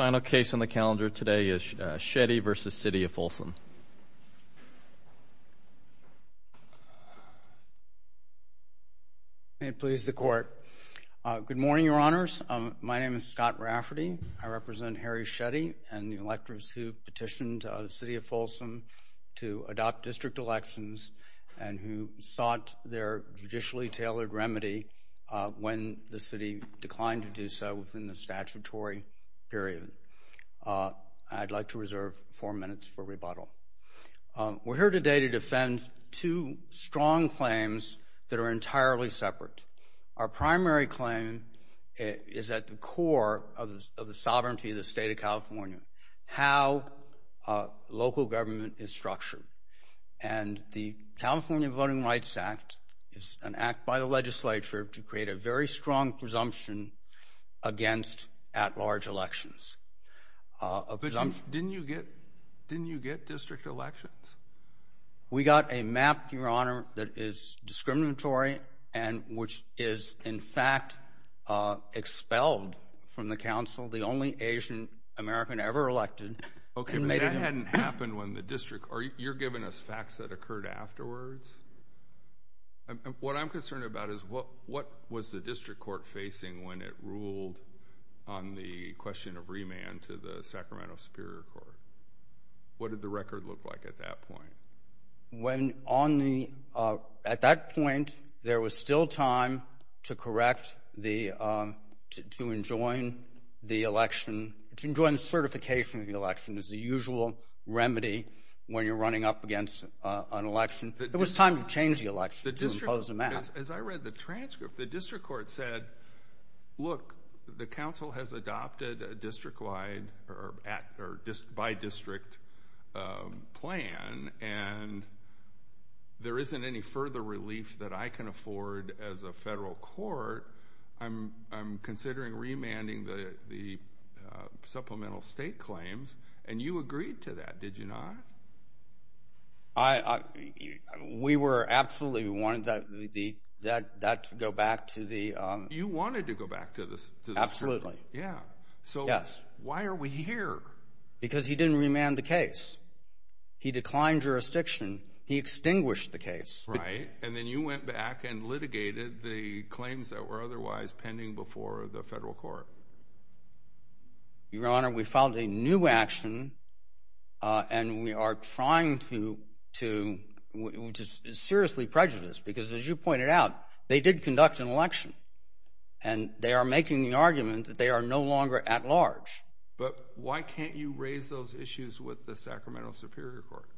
May it please the Court. Good morning, Your Honors. My name is Scott Rafferty. I represent Harry Shetty and the electors who petitioned the City of Folsom to adopt district elections and who sought their judicially tailored remedy when the city declined to do so within the statutory period. I'd like to reserve four minutes for rebuttal. We're here today to defend two strong claims that are entirely separate. Our primary claim is at the core of the sovereignty of the state of California, how local government is structured. And the California Voting Rights Act is an act by the legislature to create a very strong presumption against at-large elections. Didn't you get district elections? We got a map, Your Honor, that is discriminatory and which is, in fact, expelled from the council the only Asian American ever elected. Okay, but that hadn't happened when the district, or you're giving us facts that occurred afterwards? What I'm concerned about is what was the district court facing when it ruled on the question of remand to the Sacramento Superior Court? What did the At that point, there was still time to correct the, to enjoin the election, to enjoin the certification of the election as the usual remedy when you're running up against an election. It was time to change the election, to impose a map. As I read the transcript, the district court said, look, the council has adopted a district-wide, or by district plan, and there isn't any further relief that I can afford as a federal court. I'm considering remanding the supplemental state claims, and you agreed to that, did you not? I, we were absolutely, we wanted that to go back to the You wanted to go back to the Absolutely. Yeah. So why are we here? Because he didn't remand the case. He declined jurisdiction. He extinguished the case. Right, and then you went back and litigated the claims that were otherwise pending before the federal court. Your Honor, we filed a new action, and we are trying to, to, which is seriously prejudiced, because as you pointed out, they did conduct an election, and they are making the argument that they are no longer at large. But why can't you raise those issues with the Sacramento Superior Court,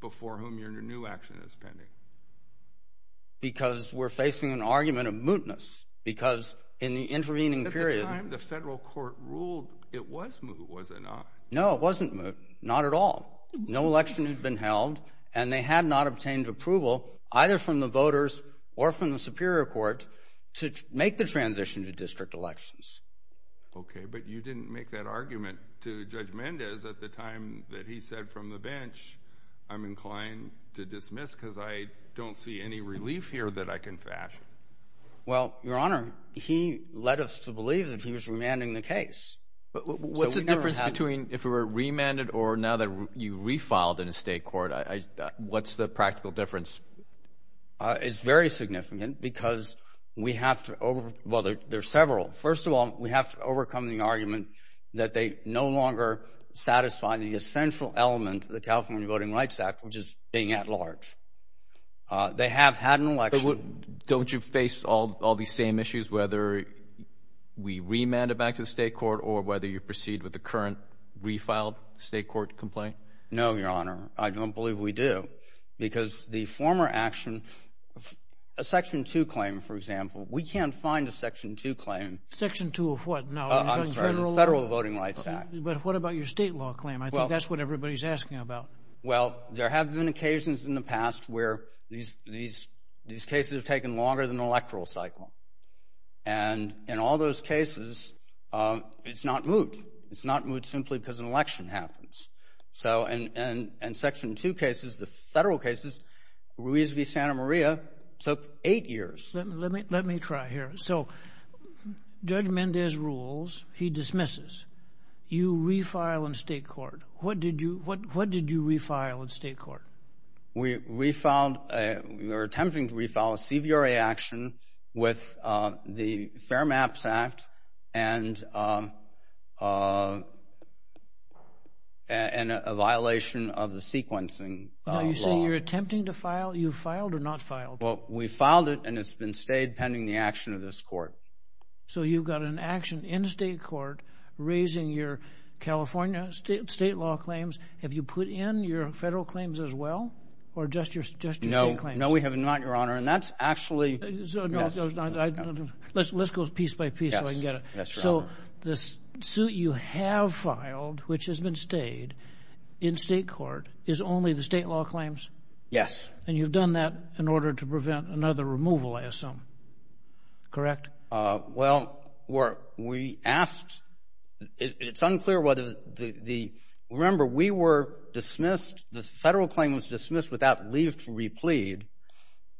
before whom your new action is pending? Because we're facing an argument of mootness, because in the intervening period At the time the federal court ruled, it was moot, was it not? No, it wasn't moot, not at all. No election had been held, and they had not obtained approval, either from the voters or from the Superior Court, to make the transition to district elections. Okay, but you didn't make that argument to Judge Mendez at the time that he said from the bench, I'm inclined to dismiss because I don't see any relief here that I can fashion. Well, your Honor, he led us to believe that he was remanding the case. But what's the difference between if it were remanded or now that you refiled in a state court? What's the practical difference? It's very significant, because we have to overcome, well, there's several. First of all, we have to overcome the argument that they no longer satisfy the essential element of the California Voting Rights Act, which is being at large. They have had an election. But don't you face all these same issues, whether we remand it back to the state court or whether you proceed with the current refiled state court complaint? No, your Honor, I don't believe we do, because the former action, a Section 2 claim, for example, we can't find a Section 2 claim. Section 2 of what? No, I'm sorry, the Federal Voting Rights Act. But what about your state law claim? I think that's what everybody's asking about. Well, there have been occasions in the past where these cases have taken longer than the electoral cycle. And in all those cases, it's not moved. It's not moved simply because an election happens. So in Section 2 cases, the federal cases, Ruiz v. Santa Maria took eight years. Let me let me try here. So Judge Mendez rules, he dismisses. You refile in state court. What did you what what did you refile in state court? We refiled, we were attempting to refile a CVRA action with the Fair Maps Act and a violation of the sequencing. Are you saying you're attempting to file, you filed or not filed? Well, we filed it and it's been stayed pending the action of this court. So you've got an action in state court raising your California state state law claims. Have you put in your federal claims as well or just your state claims? No, we have not, your Honor. And that's actually. Let's go piece by piece so I can get it. So this suit you have filed, which has been stayed in state court, is only the state law claims? Yes. And you've done that in order to prevent another removal, I assume. Correct. Well, we asked. It's unclear whether the remember we were dismissed. The federal claim was dismissed without leave to replead.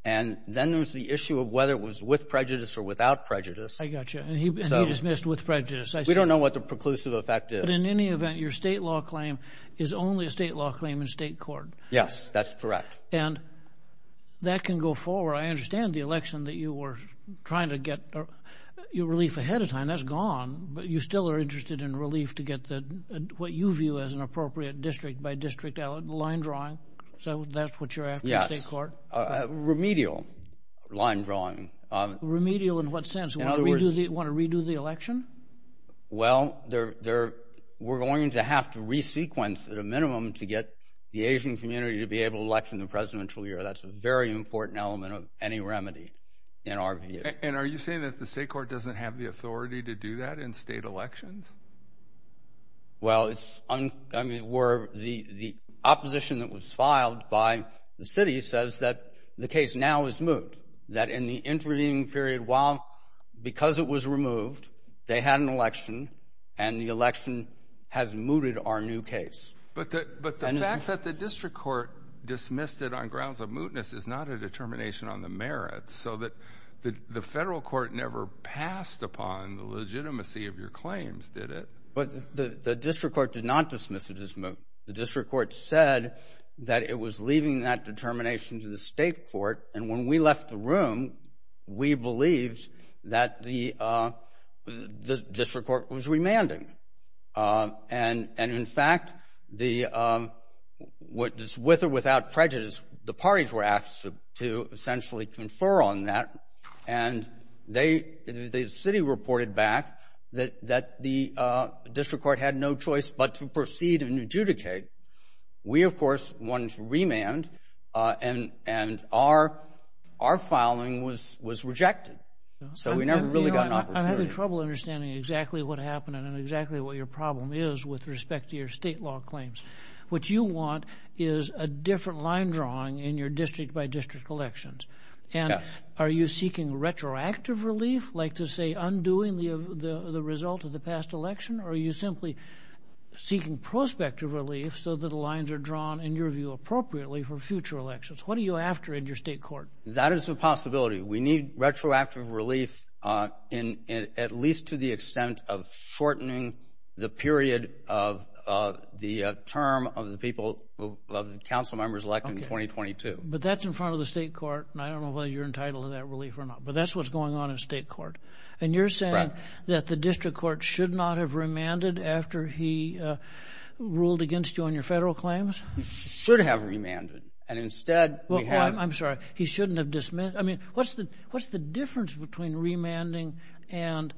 And then there was the issue of whether it was with prejudice or without prejudice. I got you. And he was dismissed with prejudice. We don't know what the preclusive effect is. But in any event, your state law claim is only a state law claim in state court. Yes, that's correct. And that can go forward. I understand the election that you were trying to get your relief ahead of time. That's gone. But you still are interested in relief to get what you view as an appropriate district by district line drawing. So that's what you're after in state court? Remedial line drawing. Remedial in what sense? Want to redo the election? Well, we're going to have to re-sequence at a minimum to get the Asian community to be able to election the presidential year. That's a very important element of any remedy in our view. And are you saying that the state court doesn't have the authority to do that in state elections? Well, the opposition that was filed by the city says that the case now is moved, that in the intervening period, while because it was removed, they had an election and the election has mooted our new case. But the fact that the district court dismissed it on grounds of mootness is not a determination on the merits. So that the federal court never passed upon the legitimacy of your claims, did it? But the district court did not dismiss it as moot. The district court said that it was leaving that determination to the state court. And when we left the room, we believed that the district court was remanding. And in fact, with or without prejudice, the parties were asked to essentially confer on that. And the city reported back that the district court had no choice but to proceed and adjudicate. We, of course, wanted to remand and our filing was rejected. So we never really got an opportunity. I'm having trouble understanding exactly what happened and exactly what your problem is with respect to your state law claims. What you want is a different line drawing in your district by district elections. And are you seeking retroactive relief, like to say undoing the result of the past election? Or are you simply seeking prospective relief so that the lines are drawn, in your view, appropriately for future elections? What are you after in your state court? That is a possibility. We need retroactive relief in at least to the extent of shortening the period of the term of the people of the council members elected in 2022. But that's in front of the state court. And I don't know whether you're entitled to that relief or not, but that's what's going on in state court. And you're saying that the district court should not have remanded after he ruled against you on your federal claims? He should have remanded. And instead, we have. I'm sorry. He shouldn't have dismissed. I mean, what's the difference between remanding and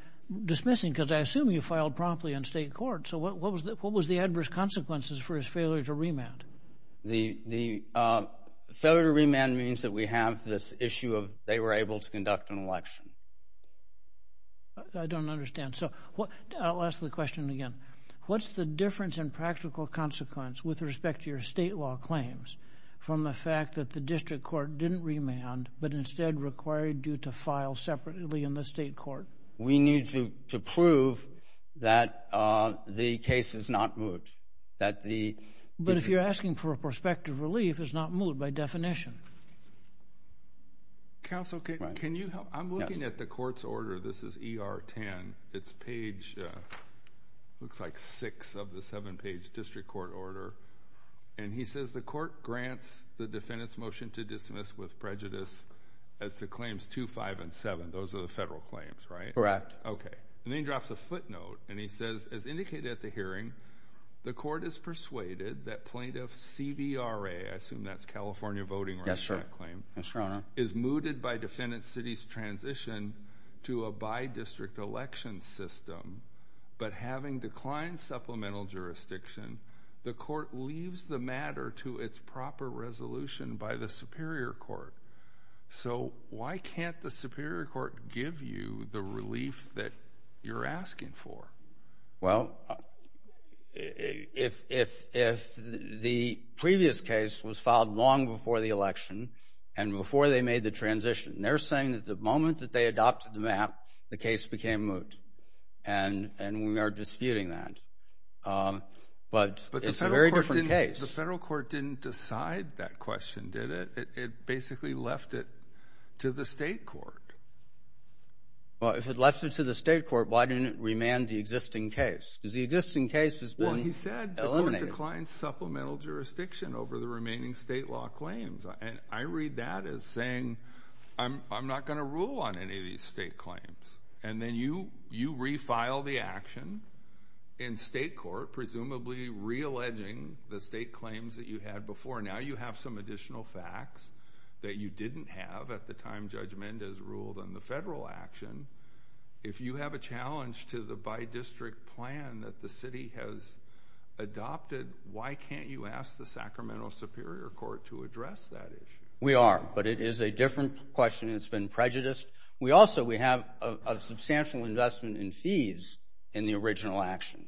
dismissing? Because I assume you filed promptly in state court. So what was the adverse consequences for his failure to remand? The failure to remand means that we have this issue of they were able to conduct an election. I don't understand. So I'll ask the question again. What's the difference in practical consequence with respect to your state law claims from the fact that the district court didn't remand, but instead required you to file separately in the state court? We need to prove that the case is not moved. But if you're asking for a prospective relief, it's not moved by definition. Counsel, can you help? I'm looking at the court's order. This is E.R. 10. It's page looks like six of the seven page district court order. And he says the court grants the defendant's motion to dismiss with prejudice as to claims two, five and seven. Those are the federal claims, right? Correct. Okay. And then he drops a footnote and he says, as indicated at the hearing, the court is persuaded that plaintiff's CVRA, I assume that's California Voting Rights Act, yes, sir, claim is rooted by defendant's city's transition to a by district election system. But having declined supplemental jurisdiction, the court leaves the matter to its proper resolution by the superior court. So why can't the superior court give you the relief that you're asking for? Well, if the previous case was filed long before the election and before they made the transition, they're saying that the moment that they adopted the map, the case became moot. And we are disputing that. But it's a very different case. The federal court didn't decide that question, did it? It basically left it to the state court. Well, if it left it to the state court, why didn't it remand the existing case? Because the existing case has been eliminated. Well, he said the court declined supplemental jurisdiction over the remaining state law claims. And I read that as saying, I'm not going to rule on any of these state claims. And then you refile the action in state court, presumably re-alleging the state claims that you had before. Now you have some additional facts that you didn't have at the time Judge Mendez ruled on the federal action. If you have a challenge to the bi-district plan that the city has adopted, why can't you ask the Sacramento Superior Court to address that issue? We are. But it is a different question. It's been prejudiced. We also, we have a substantial investment in fees in the original action.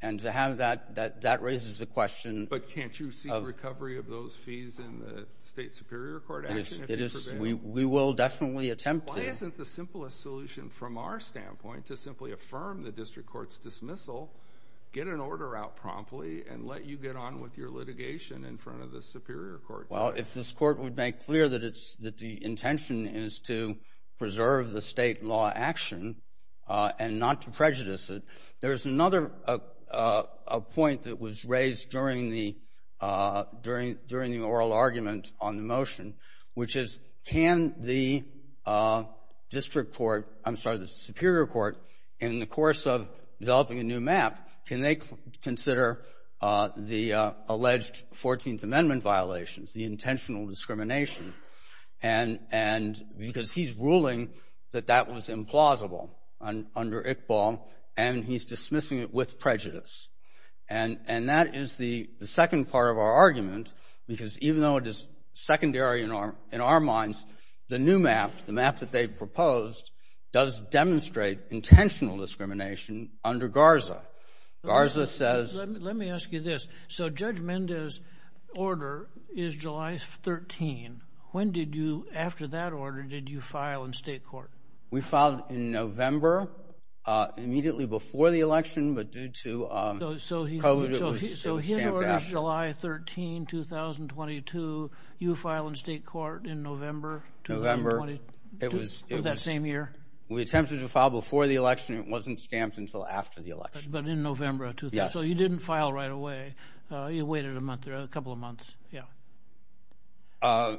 And to have that, that raises the question. But can't you see the recovery of those fees in the state superior court action? It is. We will definitely attempt to. Why isn't the simplest solution from our standpoint to simply affirm the district court's dismissal, get an order out promptly and let you get on with your litigation in front of the superior court? Well, if this court would make clear that it's that the intention is to preserve the state law action and not to prejudice it. There is another point that was raised during the oral argument on the motion, which is, can the district court, I'm sorry, the superior court, in the course of developing a new map, can they consider the alleged 14th Amendment violations, the intentional discrimination? And because he's ruling that that was implausible under Iqbal, and he's dismissing it with prejudice. And that is the second part of our argument, because even though it is secondary in our minds, the new map, the map that they've proposed, does demonstrate intentional discrimination under Garza. Garza says. Let me ask you this. So Judge Mendez order is July 13. When did you after that order? Did you file in state court? We filed in November, immediately before the election, but due to. So he. So his order is July 13, 2022. You file in state court in November. November. It was that same year. We attempted to file before the election. It wasn't stamped until after the election. But in November. So you didn't file right away. You waited a month or a couple of months. Yeah.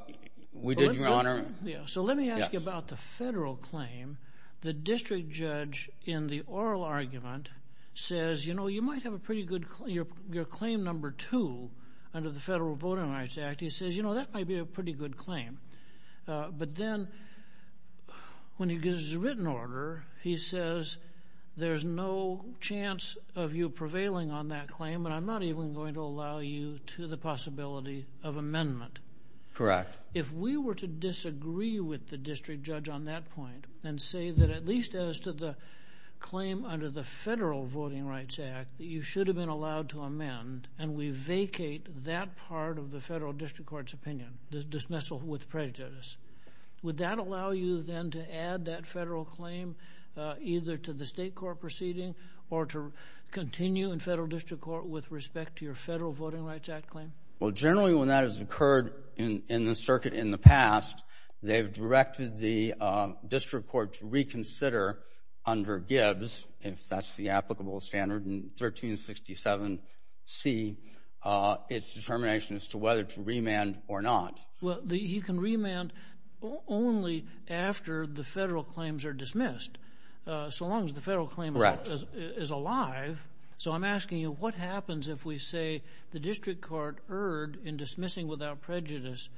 We did, Your Honor. So let me ask you about the federal claim. The district judge in the oral argument says, you know, you might have a pretty good claim number two under the Federal Voting Rights Act. He says, you know, that might be a pretty good claim. But then when he gives a written order, he says, there's no chance of you prevailing on that claim. And I'm not even going to allow you to the possibility of amendment. Correct. If we were to disagree with the district judge on that point and say that at least as to the claim under the Federal Voting Rights Act, you should have been allowed to amend. And we vacate that part of the federal district court's opinion, the dismissal with prejudice. Would that allow you then to add that federal claim either to the state court proceeding or to continue in federal district court with respect to your Federal Voting Rights Act claim? Well, generally, when that has occurred in the circuit in the past, they've directed the district court to reconsider under Gibbs, if that's the applicable standard. And 1367 C, it's determination as to whether to remand or not. Well, he can remand only after the federal claims are dismissed. So long as the federal claim is alive. So I'm asking you, what happens if we say the district court erred in dismissing without prejudice,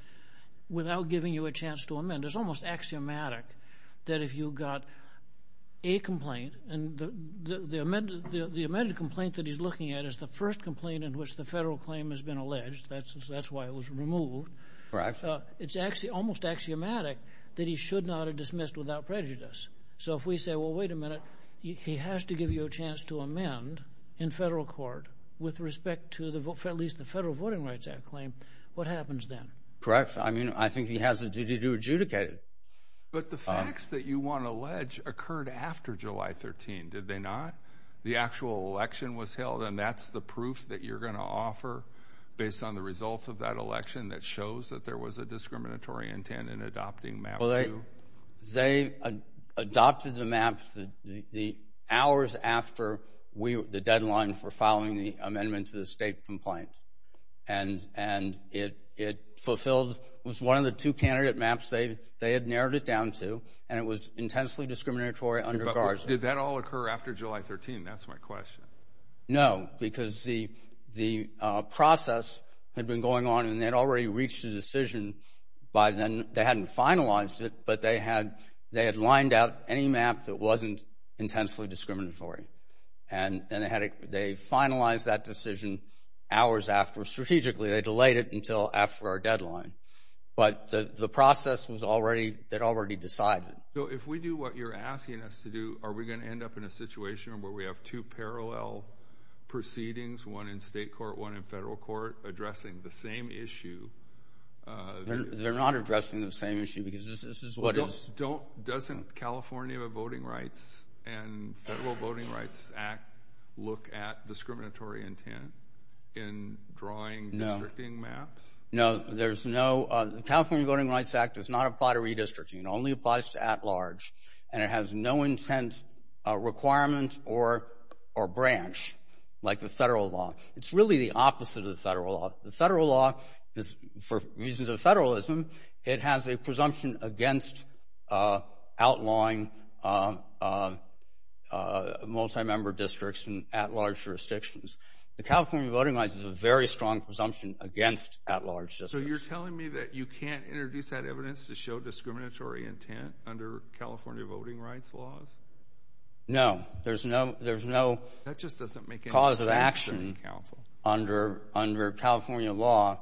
without giving you a chance to amend? It's almost axiomatic that if you got a complaint and the amended complaint that he's looking at is the first complaint in which the federal claim has been alleged. That's why it was removed. Correct. It's actually almost axiomatic that he should not have dismissed without prejudice. So if we say, well, wait a minute, he has to give you a chance to amend in federal court with respect to at least the Federal Voting Rights Act claim. What happens then? Correct. I mean, I think he has a duty to adjudicate it. But the facts that you want to allege occurred after July 13. Did they not? The actual election was held. And that's the proof that you're going to offer based on the results of that election that shows that there was a discriminatory intent in adopting MAP 2. They adopted the MAP the hours after the deadline for following the amendment to the state complaint. And it was one of the two candidate MAPs they had narrowed it down to, and it was intensely discriminatory under Garza. Did that all occur after July 13? That's my question. No, because the process had been going on and they had already reached a decision by then. They hadn't finalized it, but they had lined out any MAP that wasn't intensely discriminatory. And they finalized that decision hours after. Strategically, they delayed it until after our deadline. But the process was already, they'd already decided. So if we do what you're asking us to do, are we going to end up in a situation where we have two parallel proceedings, one in state court, one in federal court, addressing the same issue? They're not addressing the same issue because this is what is. Doesn't California Voting Rights and Federal Voting Rights Act look at discriminatory intent in drawing districting MAPs? No, there's no, the California Voting Rights Act does not apply to redistricting. It only applies to at large. And it has no intent, requirement, or branch like the federal law. It's really the opposite of the federal law. The federal law is, for reasons of federalism, it has a presumption against outlawing multi-member districts in at large jurisdictions. The California Voting Rights is a very strong presumption against at large districts. So you're telling me that you can't introduce that evidence to show discriminatory intent under California Voting Rights laws? No, there's no, there's no cause of action. Under California law,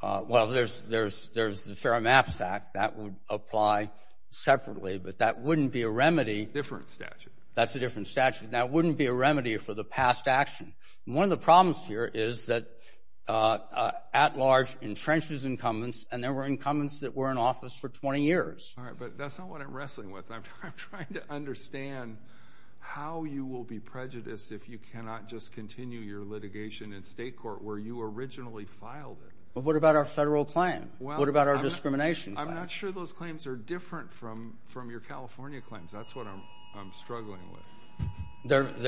well, there's the Fair MAPs Act that would apply separately, but that wouldn't be a remedy. Different statute. That's a different statute. That wouldn't be a remedy for the past action. One of the problems here is that at large entrenches incumbents, and there were incumbents that were in office for 20 years. All right, but that's not what I'm wrestling with. I'm trying to understand how you will be prejudiced if you cannot just continue your litigation in state court where you originally filed it. Well, what about our federal claim? What about our discrimination? I'm not sure those claims are different from your California claims. That's what I'm struggling with.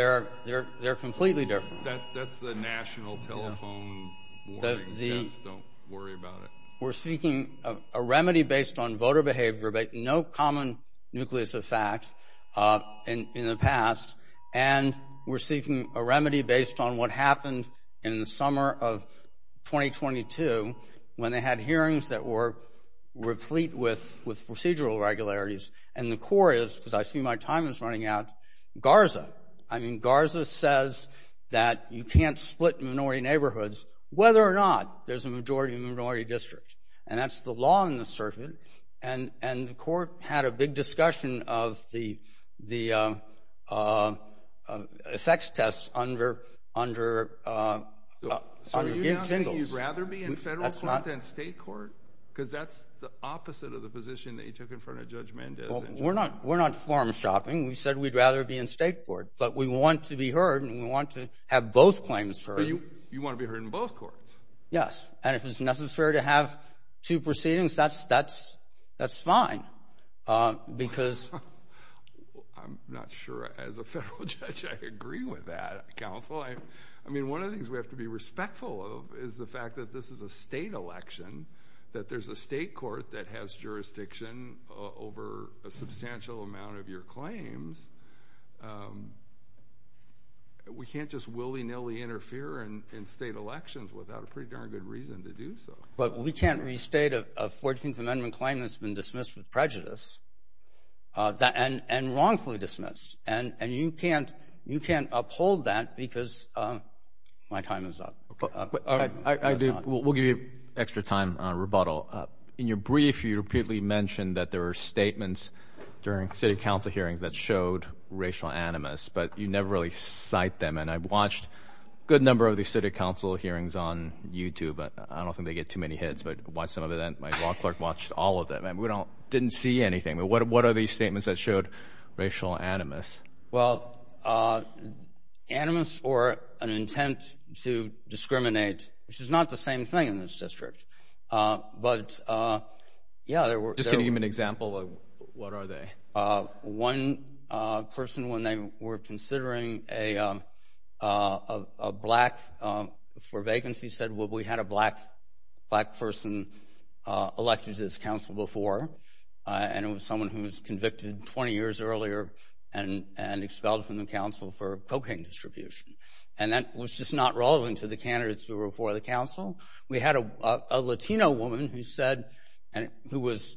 They're completely different. That's the national telephone warning, just don't worry about it. We're seeking a remedy based on voter behavior, but no common nucleus of fact in the past. And we're seeking a remedy based on what happened in the summer of 2022 when they had hearings that were replete with procedural regularities. And the core is, because I see my time is running out, Garza. I mean, Garza says that you can't split minority neighborhoods, whether or not there's a majority minority district. And that's the law on the surface. And and the court had a big discussion of the the effects tests under under. So you'd rather be in federal court than state court, because that's the opposite of the position that you took in front of Judge Mendez. We're not we're not form shopping. We said we'd rather be in state court, but we want to be heard and we want to have both claims for you. You want to be heard in both courts? Yes. And if it's necessary to have two proceedings, that's that's that's fine, because I'm not sure as a federal judge, I agree with that. Counsel, I mean, one of the things we have to be respectful of is the fact that this is a state election, that there's a state court that has jurisdiction over a substantial amount of your claim. And we can't just willy nilly interfere in state elections without a pretty darn good reason to do so. But we can't restate a 14th Amendment claim that's been dismissed with prejudice and wrongfully dismissed. And you can't you can't uphold that because my time is up. We'll give you extra time on rebuttal. In your brief, you repeatedly mentioned that there were statements during city council hearings that showed racial animus, but you never really cite them. And I've watched a good number of the city council hearings on YouTube, but I don't think they get too many hits. But why some of that my law clerk watched all of them and we don't didn't see anything. But what what are these statements that showed racial animus? Well, animus or an intent to discriminate, which is not the same thing in this district, but yeah, there were just an example of what are they? One person, when they were considering a black for vacancy, said, well, we had a black black person elected to this council before and it was someone who was convicted 20 years earlier. And and expelled from the council for cocaine distribution. And that was just not relevant to the candidates who were for the council. We had a Latino woman who said and who was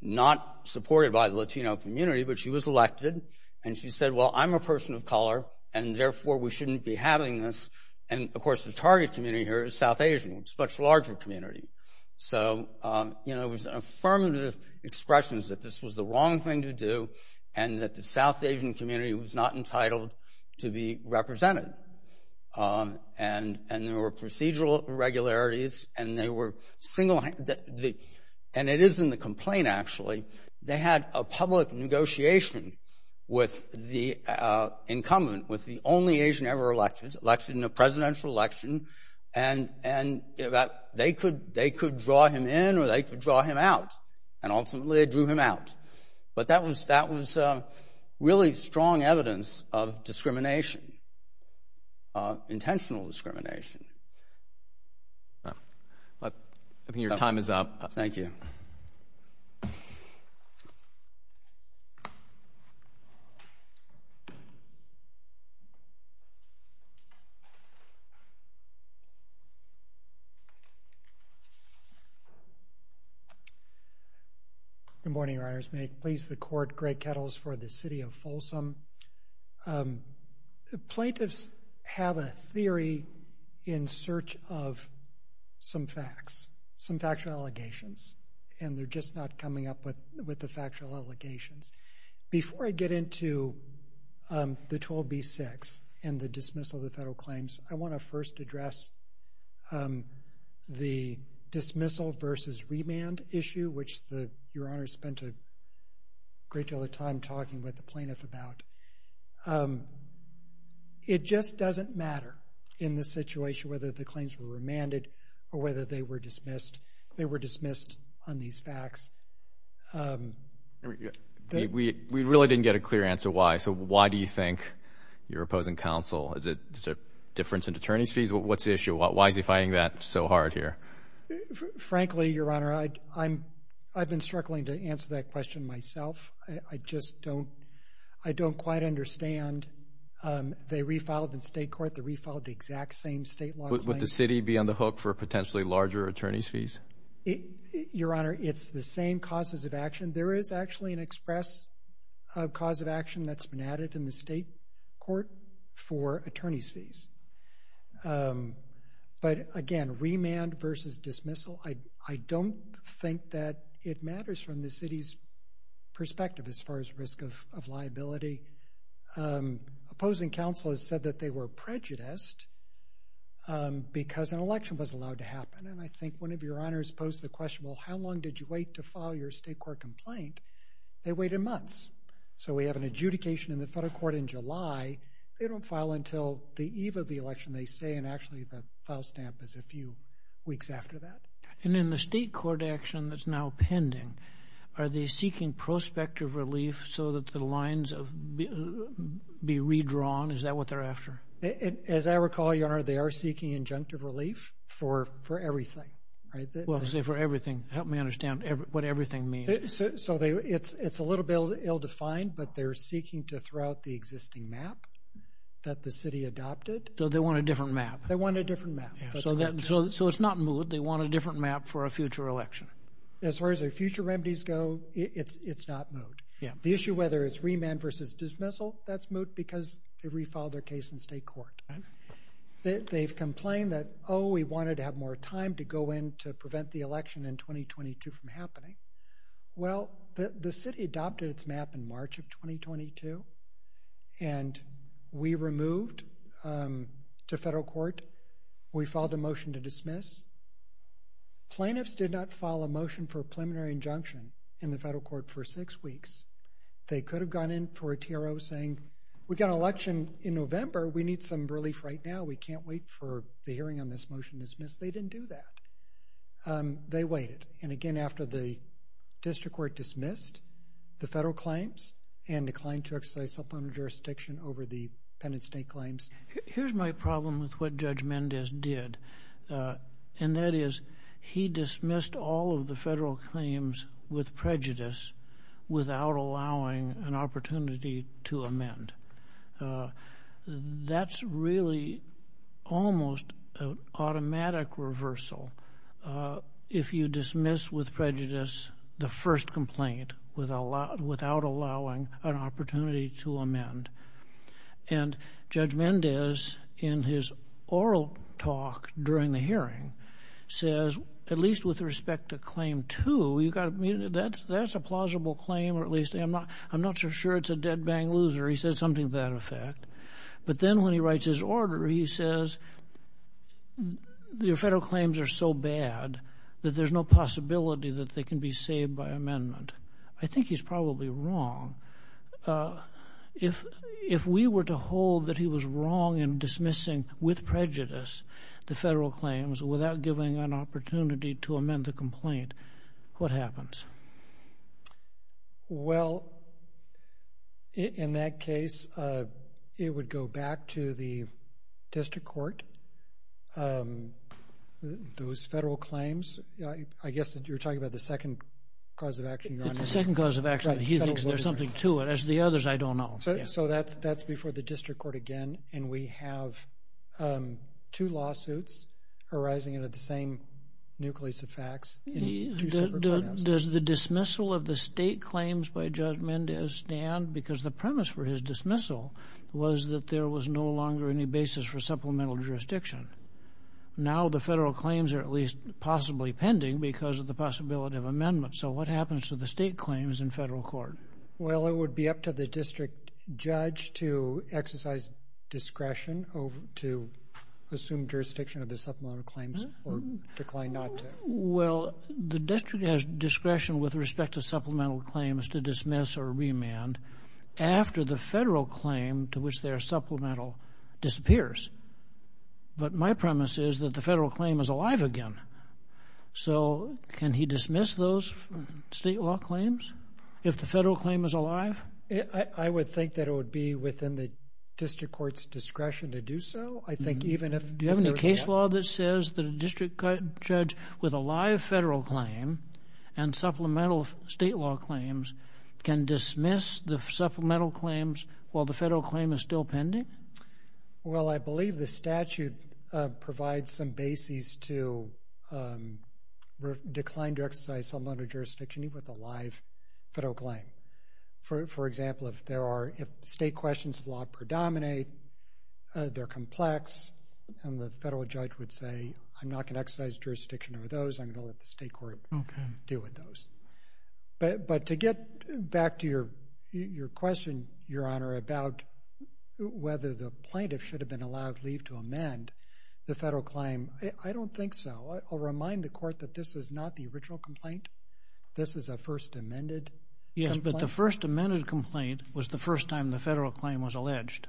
not supported by the Latino community, but she was elected. And she said, well, I'm a person of color and therefore we shouldn't be having this. And of course, the target community here is South Asian, which is much larger community. So, you know, it was affirmative expressions that this was the wrong thing to do and that the South Asian community was not entitled to be represented. And and there were procedural irregularities and they were single. And it is in the complaint, actually, they had a public negotiation with the incumbent, with the only Asian ever elected in a presidential election. And and that they could they could draw him in or they could draw him out and ultimately drew him out. But that was that was really strong evidence of discrimination. Intentional discrimination. I mean, your time is up. Thank you. Good morning, may please the court. Greg Kettles for the city of Folsom. Plaintiffs have a theory in search of some facts, some factual allegations, and they're just not coming up with with the factual allegations. Before I get into the 12B-6 and the dismissal of the federal claims, I want to first address the dismissal versus remand issue, which the your honor spent a great deal of time talking with the plaintiff about. It just doesn't matter in this situation whether the claims were remanded or whether they were dismissed. They were dismissed on these facts. We really didn't get a clear answer why. So why do you think you're opposing counsel? Is it a difference in attorney's fees? What's the issue? Why is he fighting that so hard here? Frankly, your honor, I'm I've been struggling to answer that question myself. I just don't I don't quite understand. They refiled the state court. The refiled the exact same state law. Would the city be on the hook for potentially larger attorney's fees? Your honor, it's the same causes of action. There is actually an express cause of action that's been added in the state court for attorney's fees. But again, remand versus dismissal, I don't think that it matters from the city's perspective as far as risk of liability. Opposing counsel has said that they were prejudiced because an election was allowed to happen. And I think one of your honors posed the question, well, how long did you wait to file your state court complaint? They waited months. So we have an adjudication in the federal court in July. They don't file until the eve of the election, they say. And actually, the file stamp is a few weeks after that. And in the state court action that's now pending, are they seeking prospective relief so that the lines of be redrawn? Is that what they're after? As I recall, your honor, they are seeking injunctive relief for everything. Well, I say for everything. Help me understand what everything means. So it's a little bit ill-defined, but they're seeking to throw out the existing map that the city adopted. So they want a different map. They want a different map. So it's not moot. They want a different map for a future election. As far as their future remedies go, it's not moot. The issue, whether it's remand versus dismissal, that's moot because they refiled their case in state court. They've complained that, oh, we wanted to have more time to go in to prevent the election in 2022 from happening. Well, the city adopted its map in March of 2022, and we removed to federal court, we filed a motion to dismiss. Plaintiffs did not file a motion for a preliminary injunction in the federal court for six weeks. They could have gone in for a TRO saying, we've got an election in November. We need some relief right now. We can't wait for the hearing on this motion to dismiss. They didn't do that. They waited. And again, after the district court dismissed the federal claims and declined to exercise supplemental jurisdiction over the penitent state claims. Here's my problem with what Judge Mendez did. And that is, he dismissed all of the federal claims with prejudice without allowing an opportunity to amend. That's really almost an automatic reversal if you dismiss with prejudice the first complaint without allowing an opportunity to amend. And Judge Mendez, in his oral talk during the hearing, says, at least with respect to claim two, that's a plausible claim, or at least I'm not so sure it's a dead bang loser. He says something to that effect. But then when he writes his order, he says, your federal claims are so bad that there's no possibility that they can be saved by amendment. I think he's probably wrong. If we were to hold that he was wrong in dismissing with prejudice the federal claims without giving an opportunity to amend the complaint, what happens? Well, in that case, it would go back to the district court. Those federal claims, I guess that you're talking about the second cause of action. The second cause of action. He thinks there's something to it. As the others, I don't know. So that's before the district court again. And we have two lawsuits arising out of the same nucleus of facts. Does the dismissal of the state claims by Judge Mendez stand? Because the premise for his dismissal was that there was no longer any basis for supplemental jurisdiction. Now the federal claims are at least possibly pending because of the possibility of amendment. So what happens to the state claims in federal court? Well, it would be up to the district judge to exercise discretion to assume jurisdiction of the supplemental claims or decline not to. Well, the district has discretion with respect to supplemental claims to dismiss or remand after the federal claim to which they are supplemental disappears. But my premise is that the federal claim is alive again. So can he dismiss those state law claims if the federal claim is alive? I would think that it would be within the district court's discretion to do so. I think even if you have any case law that says that a district judge with a live federal claim and supplemental state law claims can dismiss the supplemental claims while the federal claim is still pending. Well, I believe the statute provides some basis to decline to exercise supplemental jurisdiction with a live federal claim. For example, if state questions of law predominate, they're complex, and the federal judge would say, I'm not going to exercise jurisdiction over those. I'm going to let the state court deal with those. But to get back to your question, Your Honor, about whether the plaintiff should have been allowed leave to amend the federal claim, I don't think so. I'll remind the court that this is not the original complaint. This is a first amended. Yes, but the first amended complaint was the first time the federal claim was alleged.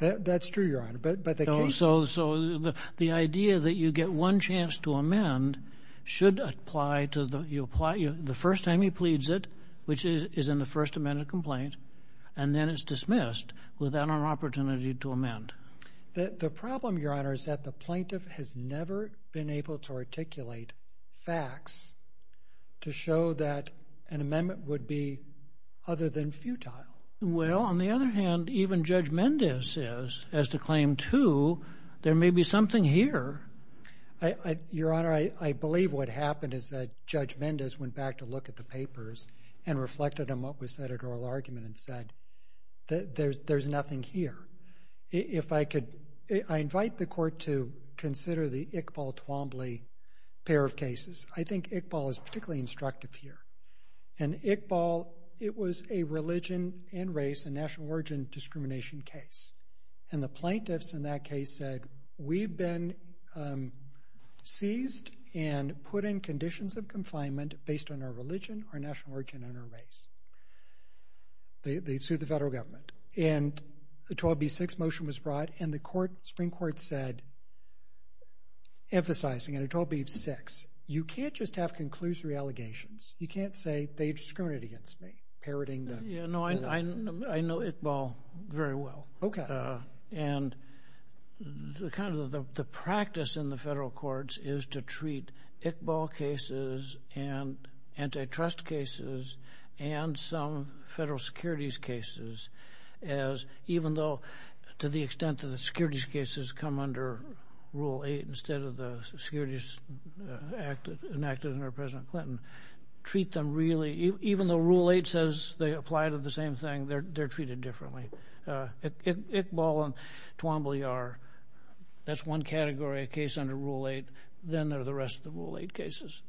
That's true, Your Honor. So the idea that you get one chance to amend should apply to the first time he pleads it, which is in the first amended complaint, and then it's dismissed without an opportunity to amend. The problem, Your Honor, is that the plaintiff has never been able to articulate facts to show that an amendment would be other than futile. Well, on the other hand, even Judge Mendez says, as to Claim 2, there may be something here. Your Honor, I believe what happened is that Judge Mendez went back to look at the papers and reflected on what was said at oral argument and said that there's nothing here. If I could, I invite the court to consider the Iqbal-Twombly pair of cases. I think Iqbal is particularly instructive here. In Iqbal, it was a religion and race and national origin discrimination case. And the plaintiffs in that case said, we've been seized and put in conditions of confinement based on our religion, our national origin, and our race. They sued the federal government. And the 12b-6 motion was brought, and the Supreme Court said, emphasizing in a 12b-6, you can't just have conclusory allegations. You can't say, they discriminated against me, parroting them. Yeah, no, I know Iqbal very well. Okay. And the practice in the federal courts is to treat Iqbal cases and antitrust cases and some federal securities cases as, even though, to the extent that the securities cases come under Rule 8 instead of the Securities Act enacted under President Clinton. Treat them really, even though Rule 8 says they apply to the same thing, they're treated differently. Iqbal and Twombly are, that's one category of case under Rule 8. Then there are the rest of the Rule 8 cases.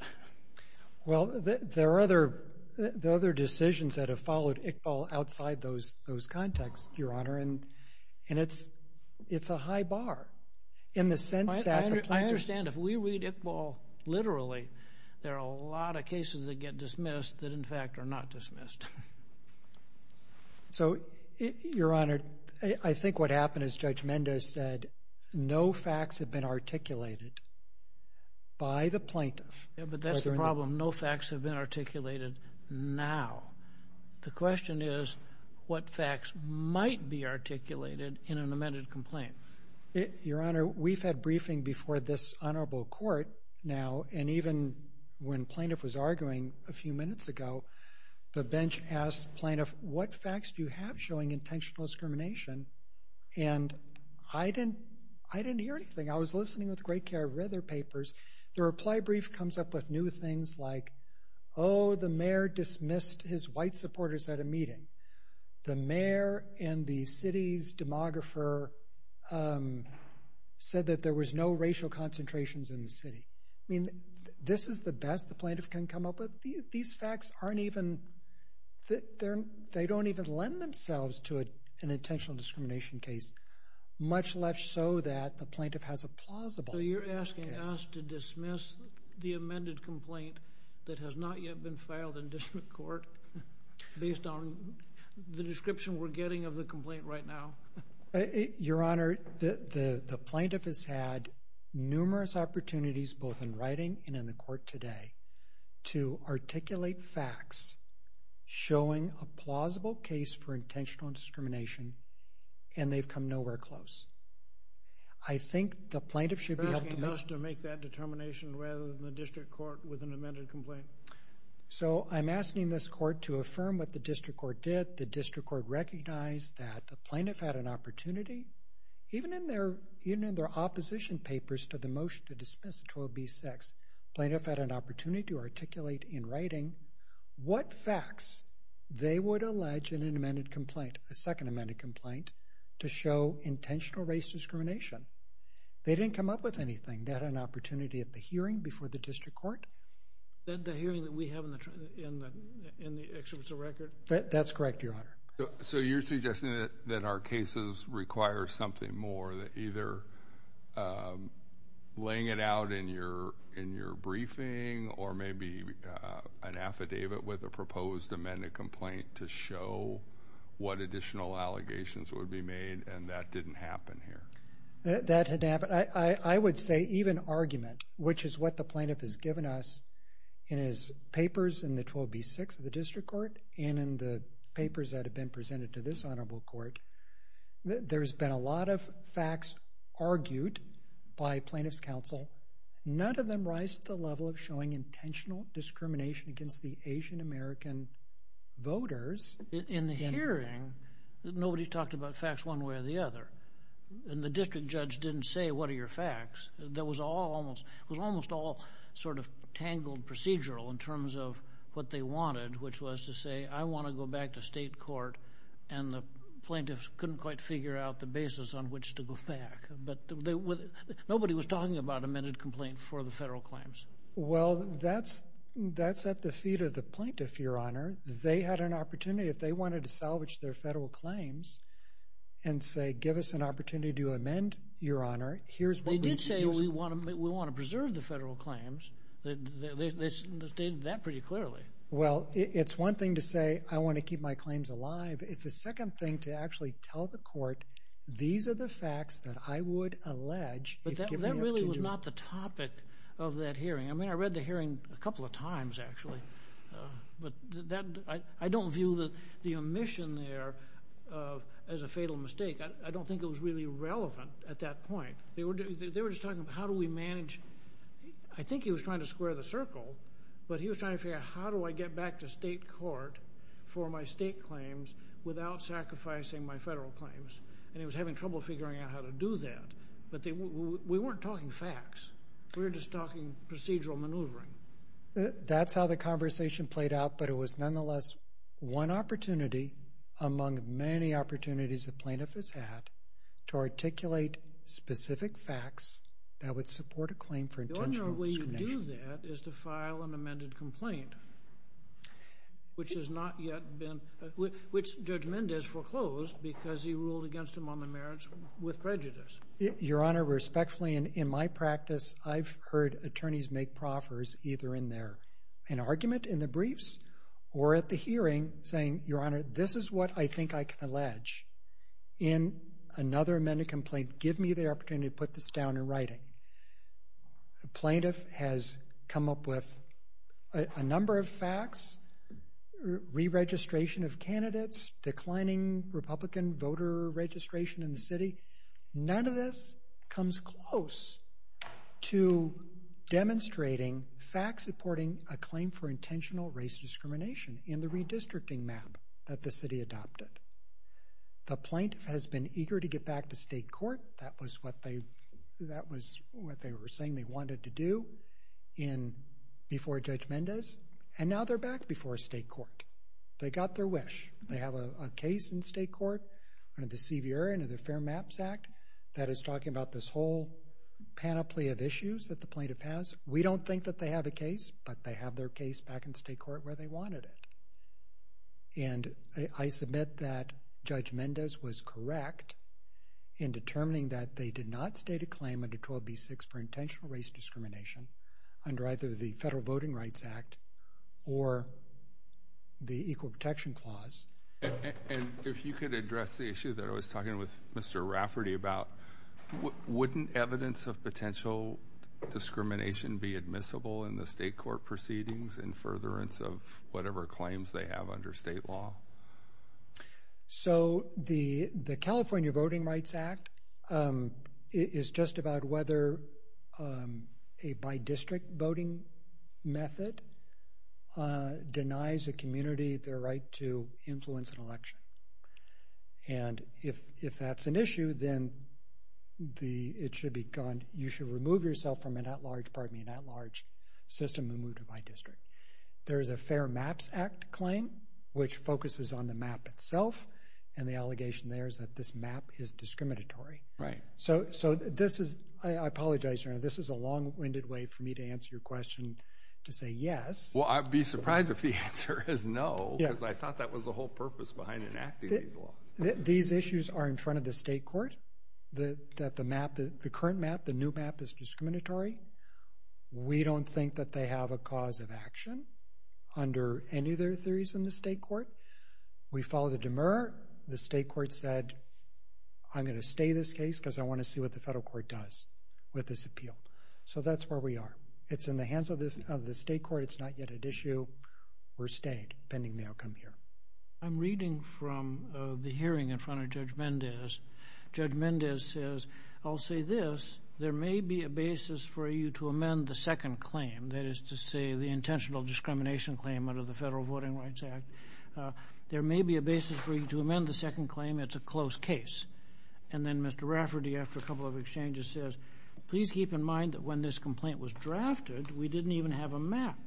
Well, there are other decisions that have followed Iqbal outside those contexts, Your Honor. And it's a high bar in the sense that the plaintiffs... ...get dismissed that, in fact, are not dismissed. So, Your Honor, I think what happened is Judge Mendez said, no facts have been articulated by the plaintiff. Yeah, but that's the problem. No facts have been articulated now. The question is, what facts might be articulated in an amended complaint? Your Honor, we've had briefing before this honorable court now. And even when plaintiff was arguing a few minutes ago, the bench asked plaintiff, what facts do you have showing intentional discrimination? And I didn't hear anything. I was listening with great care, read their papers. The reply brief comes up with new things like, oh, the mayor dismissed his white supporters at a meeting. The mayor and the city's demographer said that there was no racial concentrations in the city. I mean, this is the best the plaintiff can come up with. These facts aren't even... They don't even lend themselves to an intentional discrimination case. Much less so that the plaintiff has a plausible... So you're asking us to dismiss the amended complaint that has not yet been filed in district court... ...based on the description we're getting of the complaint right now? Your Honor, the plaintiff has had numerous opportunities both in writing and in the court today to articulate facts showing a plausible case for intentional discrimination. And they've come nowhere close. I think the plaintiff should be able to... You're asking us to make that determination rather than the district court with an amended complaint? So I'm asking this court to affirm what the district court did. The district court recognized that the plaintiff had an opportunity. Even in their opposition papers to the motion to dismiss 12b-6, the plaintiff had an opportunity to articulate in writing what facts they would allege in an amended complaint, a second amended complaint, to show intentional race discrimination. They didn't come up with anything. They had an opportunity at the hearing before the district court. The hearing that we have in the excerpts of record? That's correct, Your Honor. So you're suggesting that our cases require something more, that either laying it out in your briefing or maybe an affidavit with a proposed amended complaint to show what additional allegations would be made, and that didn't happen here? That didn't happen. I would say even argument, which is what the plaintiff has given us in his papers in the 12b-6 of the district court and in the papers that have been presented to this honorable court, there's been a lot of facts argued by plaintiff's counsel. None of them rise to the level of showing intentional discrimination against the Asian-American voters. In the hearing, nobody talked about facts one way or the other, and the district judge didn't say, what are your facts? That was almost all sort of tangled procedural in terms of what they wanted, which was to say, I want to go back to state court, and the plaintiffs couldn't quite figure out the basis on which to go back. But nobody was talking about amended complaint for the federal claims. Well, that's at the feet of the plaintiff, Your Honor. They had an opportunity, if they wanted to salvage their federal claims and say, give us an opportunity to amend, Your Honor, here's what we need to do. They did say, we want to preserve the federal claims. They stated that pretty clearly. Well, it's one thing to say, I want to keep my claims alive. It's the second thing to actually tell the court, these are the facts that I would allege if given the opportunity. But that really was not the topic of that hearing. I mean, I read the hearing a couple of times, actually. But I don't view the omission there as a fatal mistake. I don't think it was really relevant at that point. They were just talking about, how do we manage? I think he was trying to square the circle. But he was trying to figure out, how do I get back to state court for my state claims without sacrificing my federal claims? And he was having trouble figuring out how to do that. But we weren't talking facts. We were just talking procedural maneuvering. That's how the conversation played out. But it was, nonetheless, one opportunity among many opportunities the plaintiff has had to articulate specific facts that would support a claim for intentional discrimination. The ordinary way you do that is to file an amended complaint, which Judge Mendez foreclosed because he ruled against him on the merits with prejudice. Your Honor, respectfully, in my practice, I've heard attorneys make proffers either in their argument in the briefs or at the hearing saying, Your Honor, this is what I think I can allege. In another amended complaint, give me the opportunity to put this down in writing. The plaintiff has come up with a number of facts, re-registration of candidates, declining Republican voter registration in the city. None of this comes close to demonstrating facts supporting a claim for intentional race discrimination in the redistricting map that the city adopted. The plaintiff has been eager to get back to state court. That was what they were saying they wanted to do before Judge Mendez. And now they're back before state court. They got their wish. They have a case in state court. Under the CVR and under the Fair Maps Act, that is talking about this whole panoply of issues that the plaintiff has. We don't think that they have a case, but they have their case back in state court where they wanted it. And I submit that Judge Mendez was correct in determining that they did not state a claim under 12B6 for intentional race discrimination under either the Federal Voting Rights Act or the Equal Protection Clause. And if you could address the issue that I was talking with Mr. Rafferty about, wouldn't evidence of potential discrimination be admissible in the state court proceedings in furtherance of whatever claims they have under state law? So the California Voting Rights Act is just about whether a by-district voting method denies a community their right to influence an election. And if that's an issue, then it should be gone. You should remove yourself from an at-large, pardon me, an at-large system and move to by-district. There is a Fair Maps Act claim which focuses on the map itself. And the allegation there is that this map is discriminatory. Right. So this is, I apologize, Your Honor, this is a long-winded way for me to answer your question to say yes. Well, I'd be surprised if the answer is no, because I thought that was the whole purpose behind enacting these laws. These issues are in front of the state court, that the map, the current map, the new map is discriminatory. We don't think that they have a cause of action under any of their theories in the state court. We followed a demur. The state court said, I'm going to stay this case because I want to see what the federal court does with this appeal. So that's where we are. It's in the hands of the state court. It's not yet at issue. We're staying, depending on the outcome here. I'm reading from the hearing in front of Judge Mendez. Judge Mendez says, I'll say this, there may be a basis for you to amend the second claim, that is to say, the intentional discrimination claim under the Federal Voting Rights Act. There may be a basis for you to amend the second claim. It's a close case. And then Mr. Rafferty, after a couple of exchanges, says, please keep in mind that when this complaint was drafted, we didn't even have a map.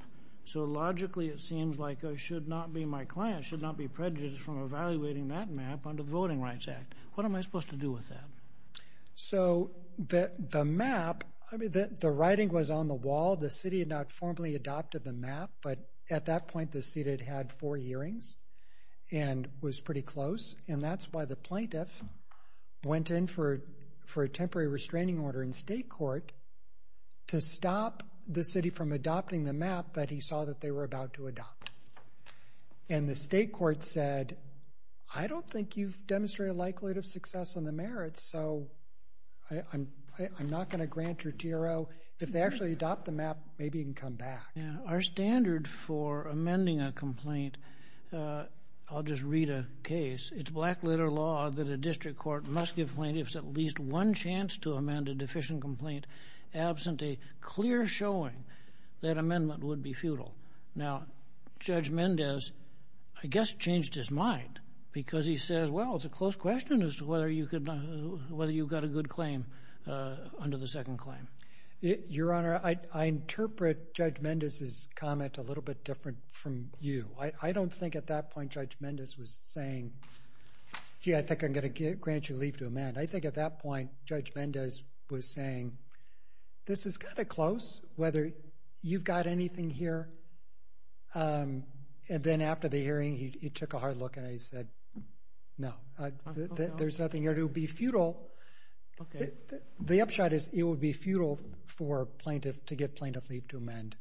So logically, it seems like I should not be my client, should not be prejudiced from evaluating that map under the Voting Rights Act. What am I supposed to do with that? So the map, I mean, the writing was on the wall. The city had not formally adopted the map. But at that point, the seated had four hearings and was pretty close. And that's why the plaintiff went in for a temporary restraining order in state court to stop the city from adopting the map that he saw that they were about to adopt. And the state court said, I don't think you've demonstrated a likelihood of success on the merits. So I'm not going to grant your TRO. If they actually adopt the map, maybe you can come back. Our standard for amending a complaint, I'll just read a case. It's black litter law that a district court must give plaintiffs at least one chance to amend a deficient complaint absent a clear showing that amendment would be futile. Now, Judge Mendez, I guess, changed his mind because he says, well, it's a close question as to whether you got a good claim under the second claim. Your Honor, I interpret Judge Mendez's comment a little bit different from you. I don't think at that point Judge Mendez was saying, gee, I think I'm going to grant you leave to amend. I think at that point, Judge Mendez was saying, this is kind of close, whether you've got anything here. And then after the hearing, he took a hard look. And he said, no, there's nothing here to be futile. OK. The upshot is it would be futile to get plaintiff leave to amend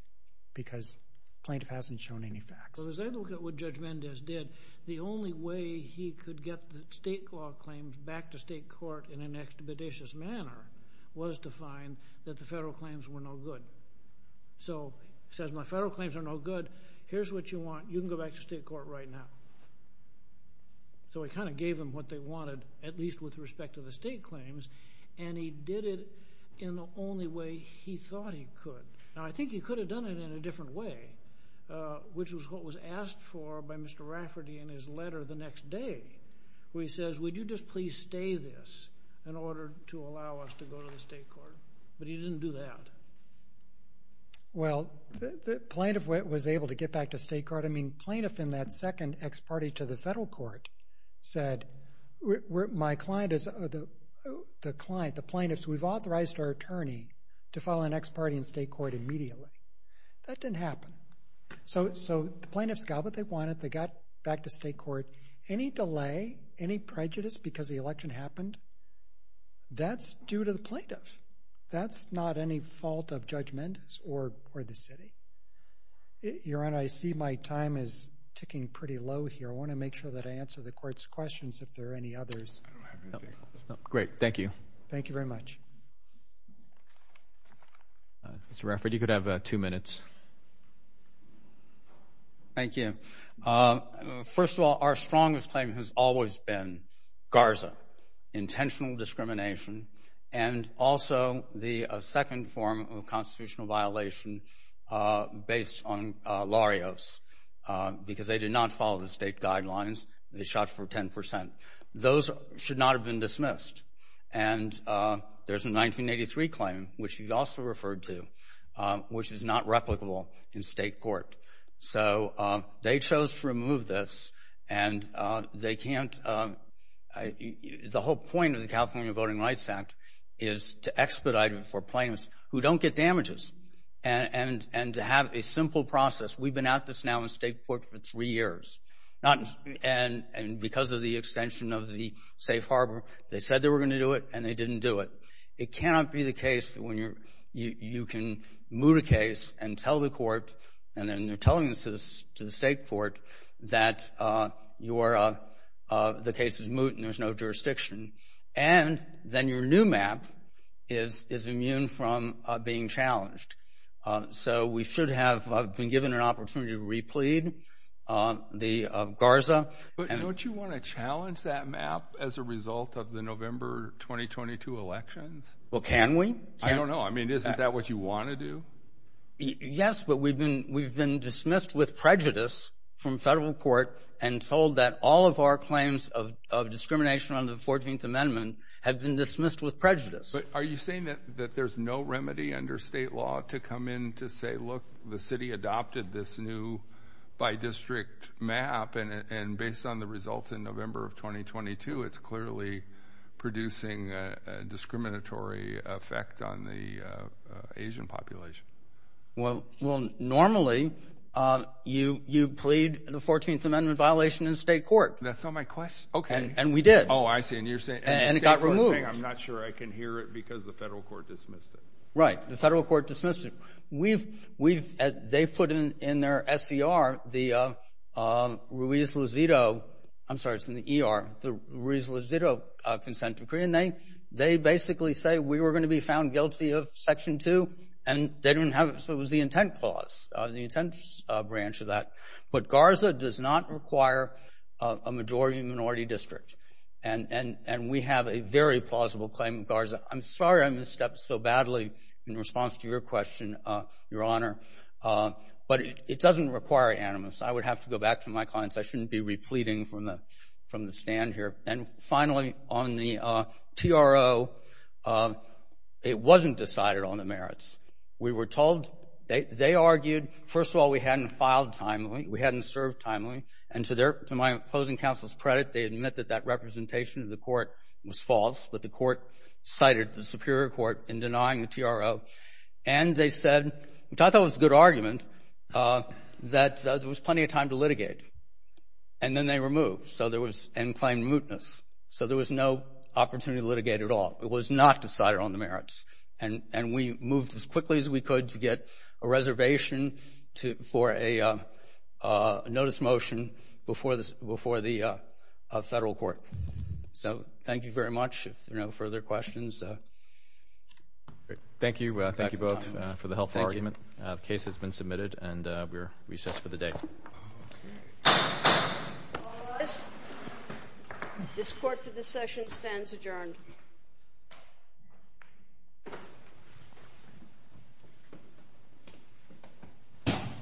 because plaintiff hasn't shown any facts. But as I look at what Judge Mendez did, the only way he could get the state law claims back to state court in an expeditious manner was to find that the federal claims were no good. So he says, my federal claims are no good. Here's what you want. You can go back to state court right now. So he kind of gave them what they wanted, at least with respect to the state claims. And he did it in the only way he thought he could. Now, I think he could have done it in a different way, which was what was asked for by Mr. Rafferty in his letter the next day, where he says, would you just please stay this in order to allow us to go to the state court? But he didn't do that. Well, the plaintiff was able to get back to state court. Plaintiff in that second ex parte to the federal court said, the client, the plaintiffs, we've authorized our attorney to file an ex parte in state court immediately. That didn't happen. So the plaintiffs got what they wanted. They got back to state court. Any delay, any prejudice because the election happened, that's due to the plaintiff. That's not any fault of Judge Mendez or the city. Your Honor, I see my time is ticking pretty low here. I want to make sure that I answer the court's questions if there are any others. Great, thank you. Thank you very much. Mr. Rafferty, you could have two minutes. Thank you. First of all, our strongest claim has always been Garza, intentional discrimination, and also the second form of constitutional violation based on Larios, because they did not follow the state guidelines. They shot for 10%. Those should not have been dismissed. And there's a 1983 claim, which you also referred to, which is not replicable in state court. So they chose to remove this, and they can't, the whole point of the California Voting Rights Act is to expedite it for plaintiffs who don't get damages, and to have a simple process. We've been at this now in state court for three years, and because of the extension of the safe harbor, they said they were going to do it, and they didn't do it. It cannot be the case that when you can moot a case and tell the court, and then they're telling this to the state court, that the case is moot and there's no jurisdiction. And then your new map is immune from being challenged. So we should have been given an opportunity to replead the Garza. But don't you want to challenge that map as a result of the November 2022 election? Well, can we? I don't know. I mean, isn't that what you want to do? Yes, but we've been dismissed with prejudice from federal court, and told that all of our claims of discrimination under the 14th Amendment have been dismissed with prejudice. Are you saying that there's no remedy under state law to come in to say, look, the city adopted this new by-district map, and based on the results in November of 2022, it's clearly producing a discriminatory effect on the Asian population? Well, normally, you plead the 14th Amendment violation in state court. That's not my question. Okay. And we did. Oh, I see. And you're saying... And it got removed. I'm not sure I can hear it because the federal court dismissed it. Right. The federal court dismissed it. They put in their SCR, the Ruiz-Lozito... I'm sorry, it's in the ER, the Ruiz-Lozito consent decree, and they basically say we were going to be found guilty of Section 2, and they didn't have it. So it was the intent clause, the intent branch of that. But Garza does not require a majority minority district, and we have a very plausible claim in Garza. I'm sorry I misstepped so badly in response to your question, Your Honor, but it doesn't require animus. I would have to go back to my clients. I shouldn't be repleting from the stand here. And finally, on the TRO, it wasn't decided on the merits. We were told... They argued, first of all, we hadn't filed timely. We hadn't served timely. And to my closing counsel's credit, they admit that that representation of the court was false, but the court cited the Superior Court in denying the TRO. And they said, which I thought was a good argument, that there was plenty of time to litigate. And then they removed. So there was end-claim mootness. So there was no opportunity to litigate at all. It was not decided on the merits. And we moved as quickly as we could to get a reservation for a notice motion before the federal court. So thank you very much. If there are no further questions... Great. Thank you. Thank you both for the helpful argument. The case has been submitted, and we are recessed for the day. Okay. All rise. This court for this session stands adjourned.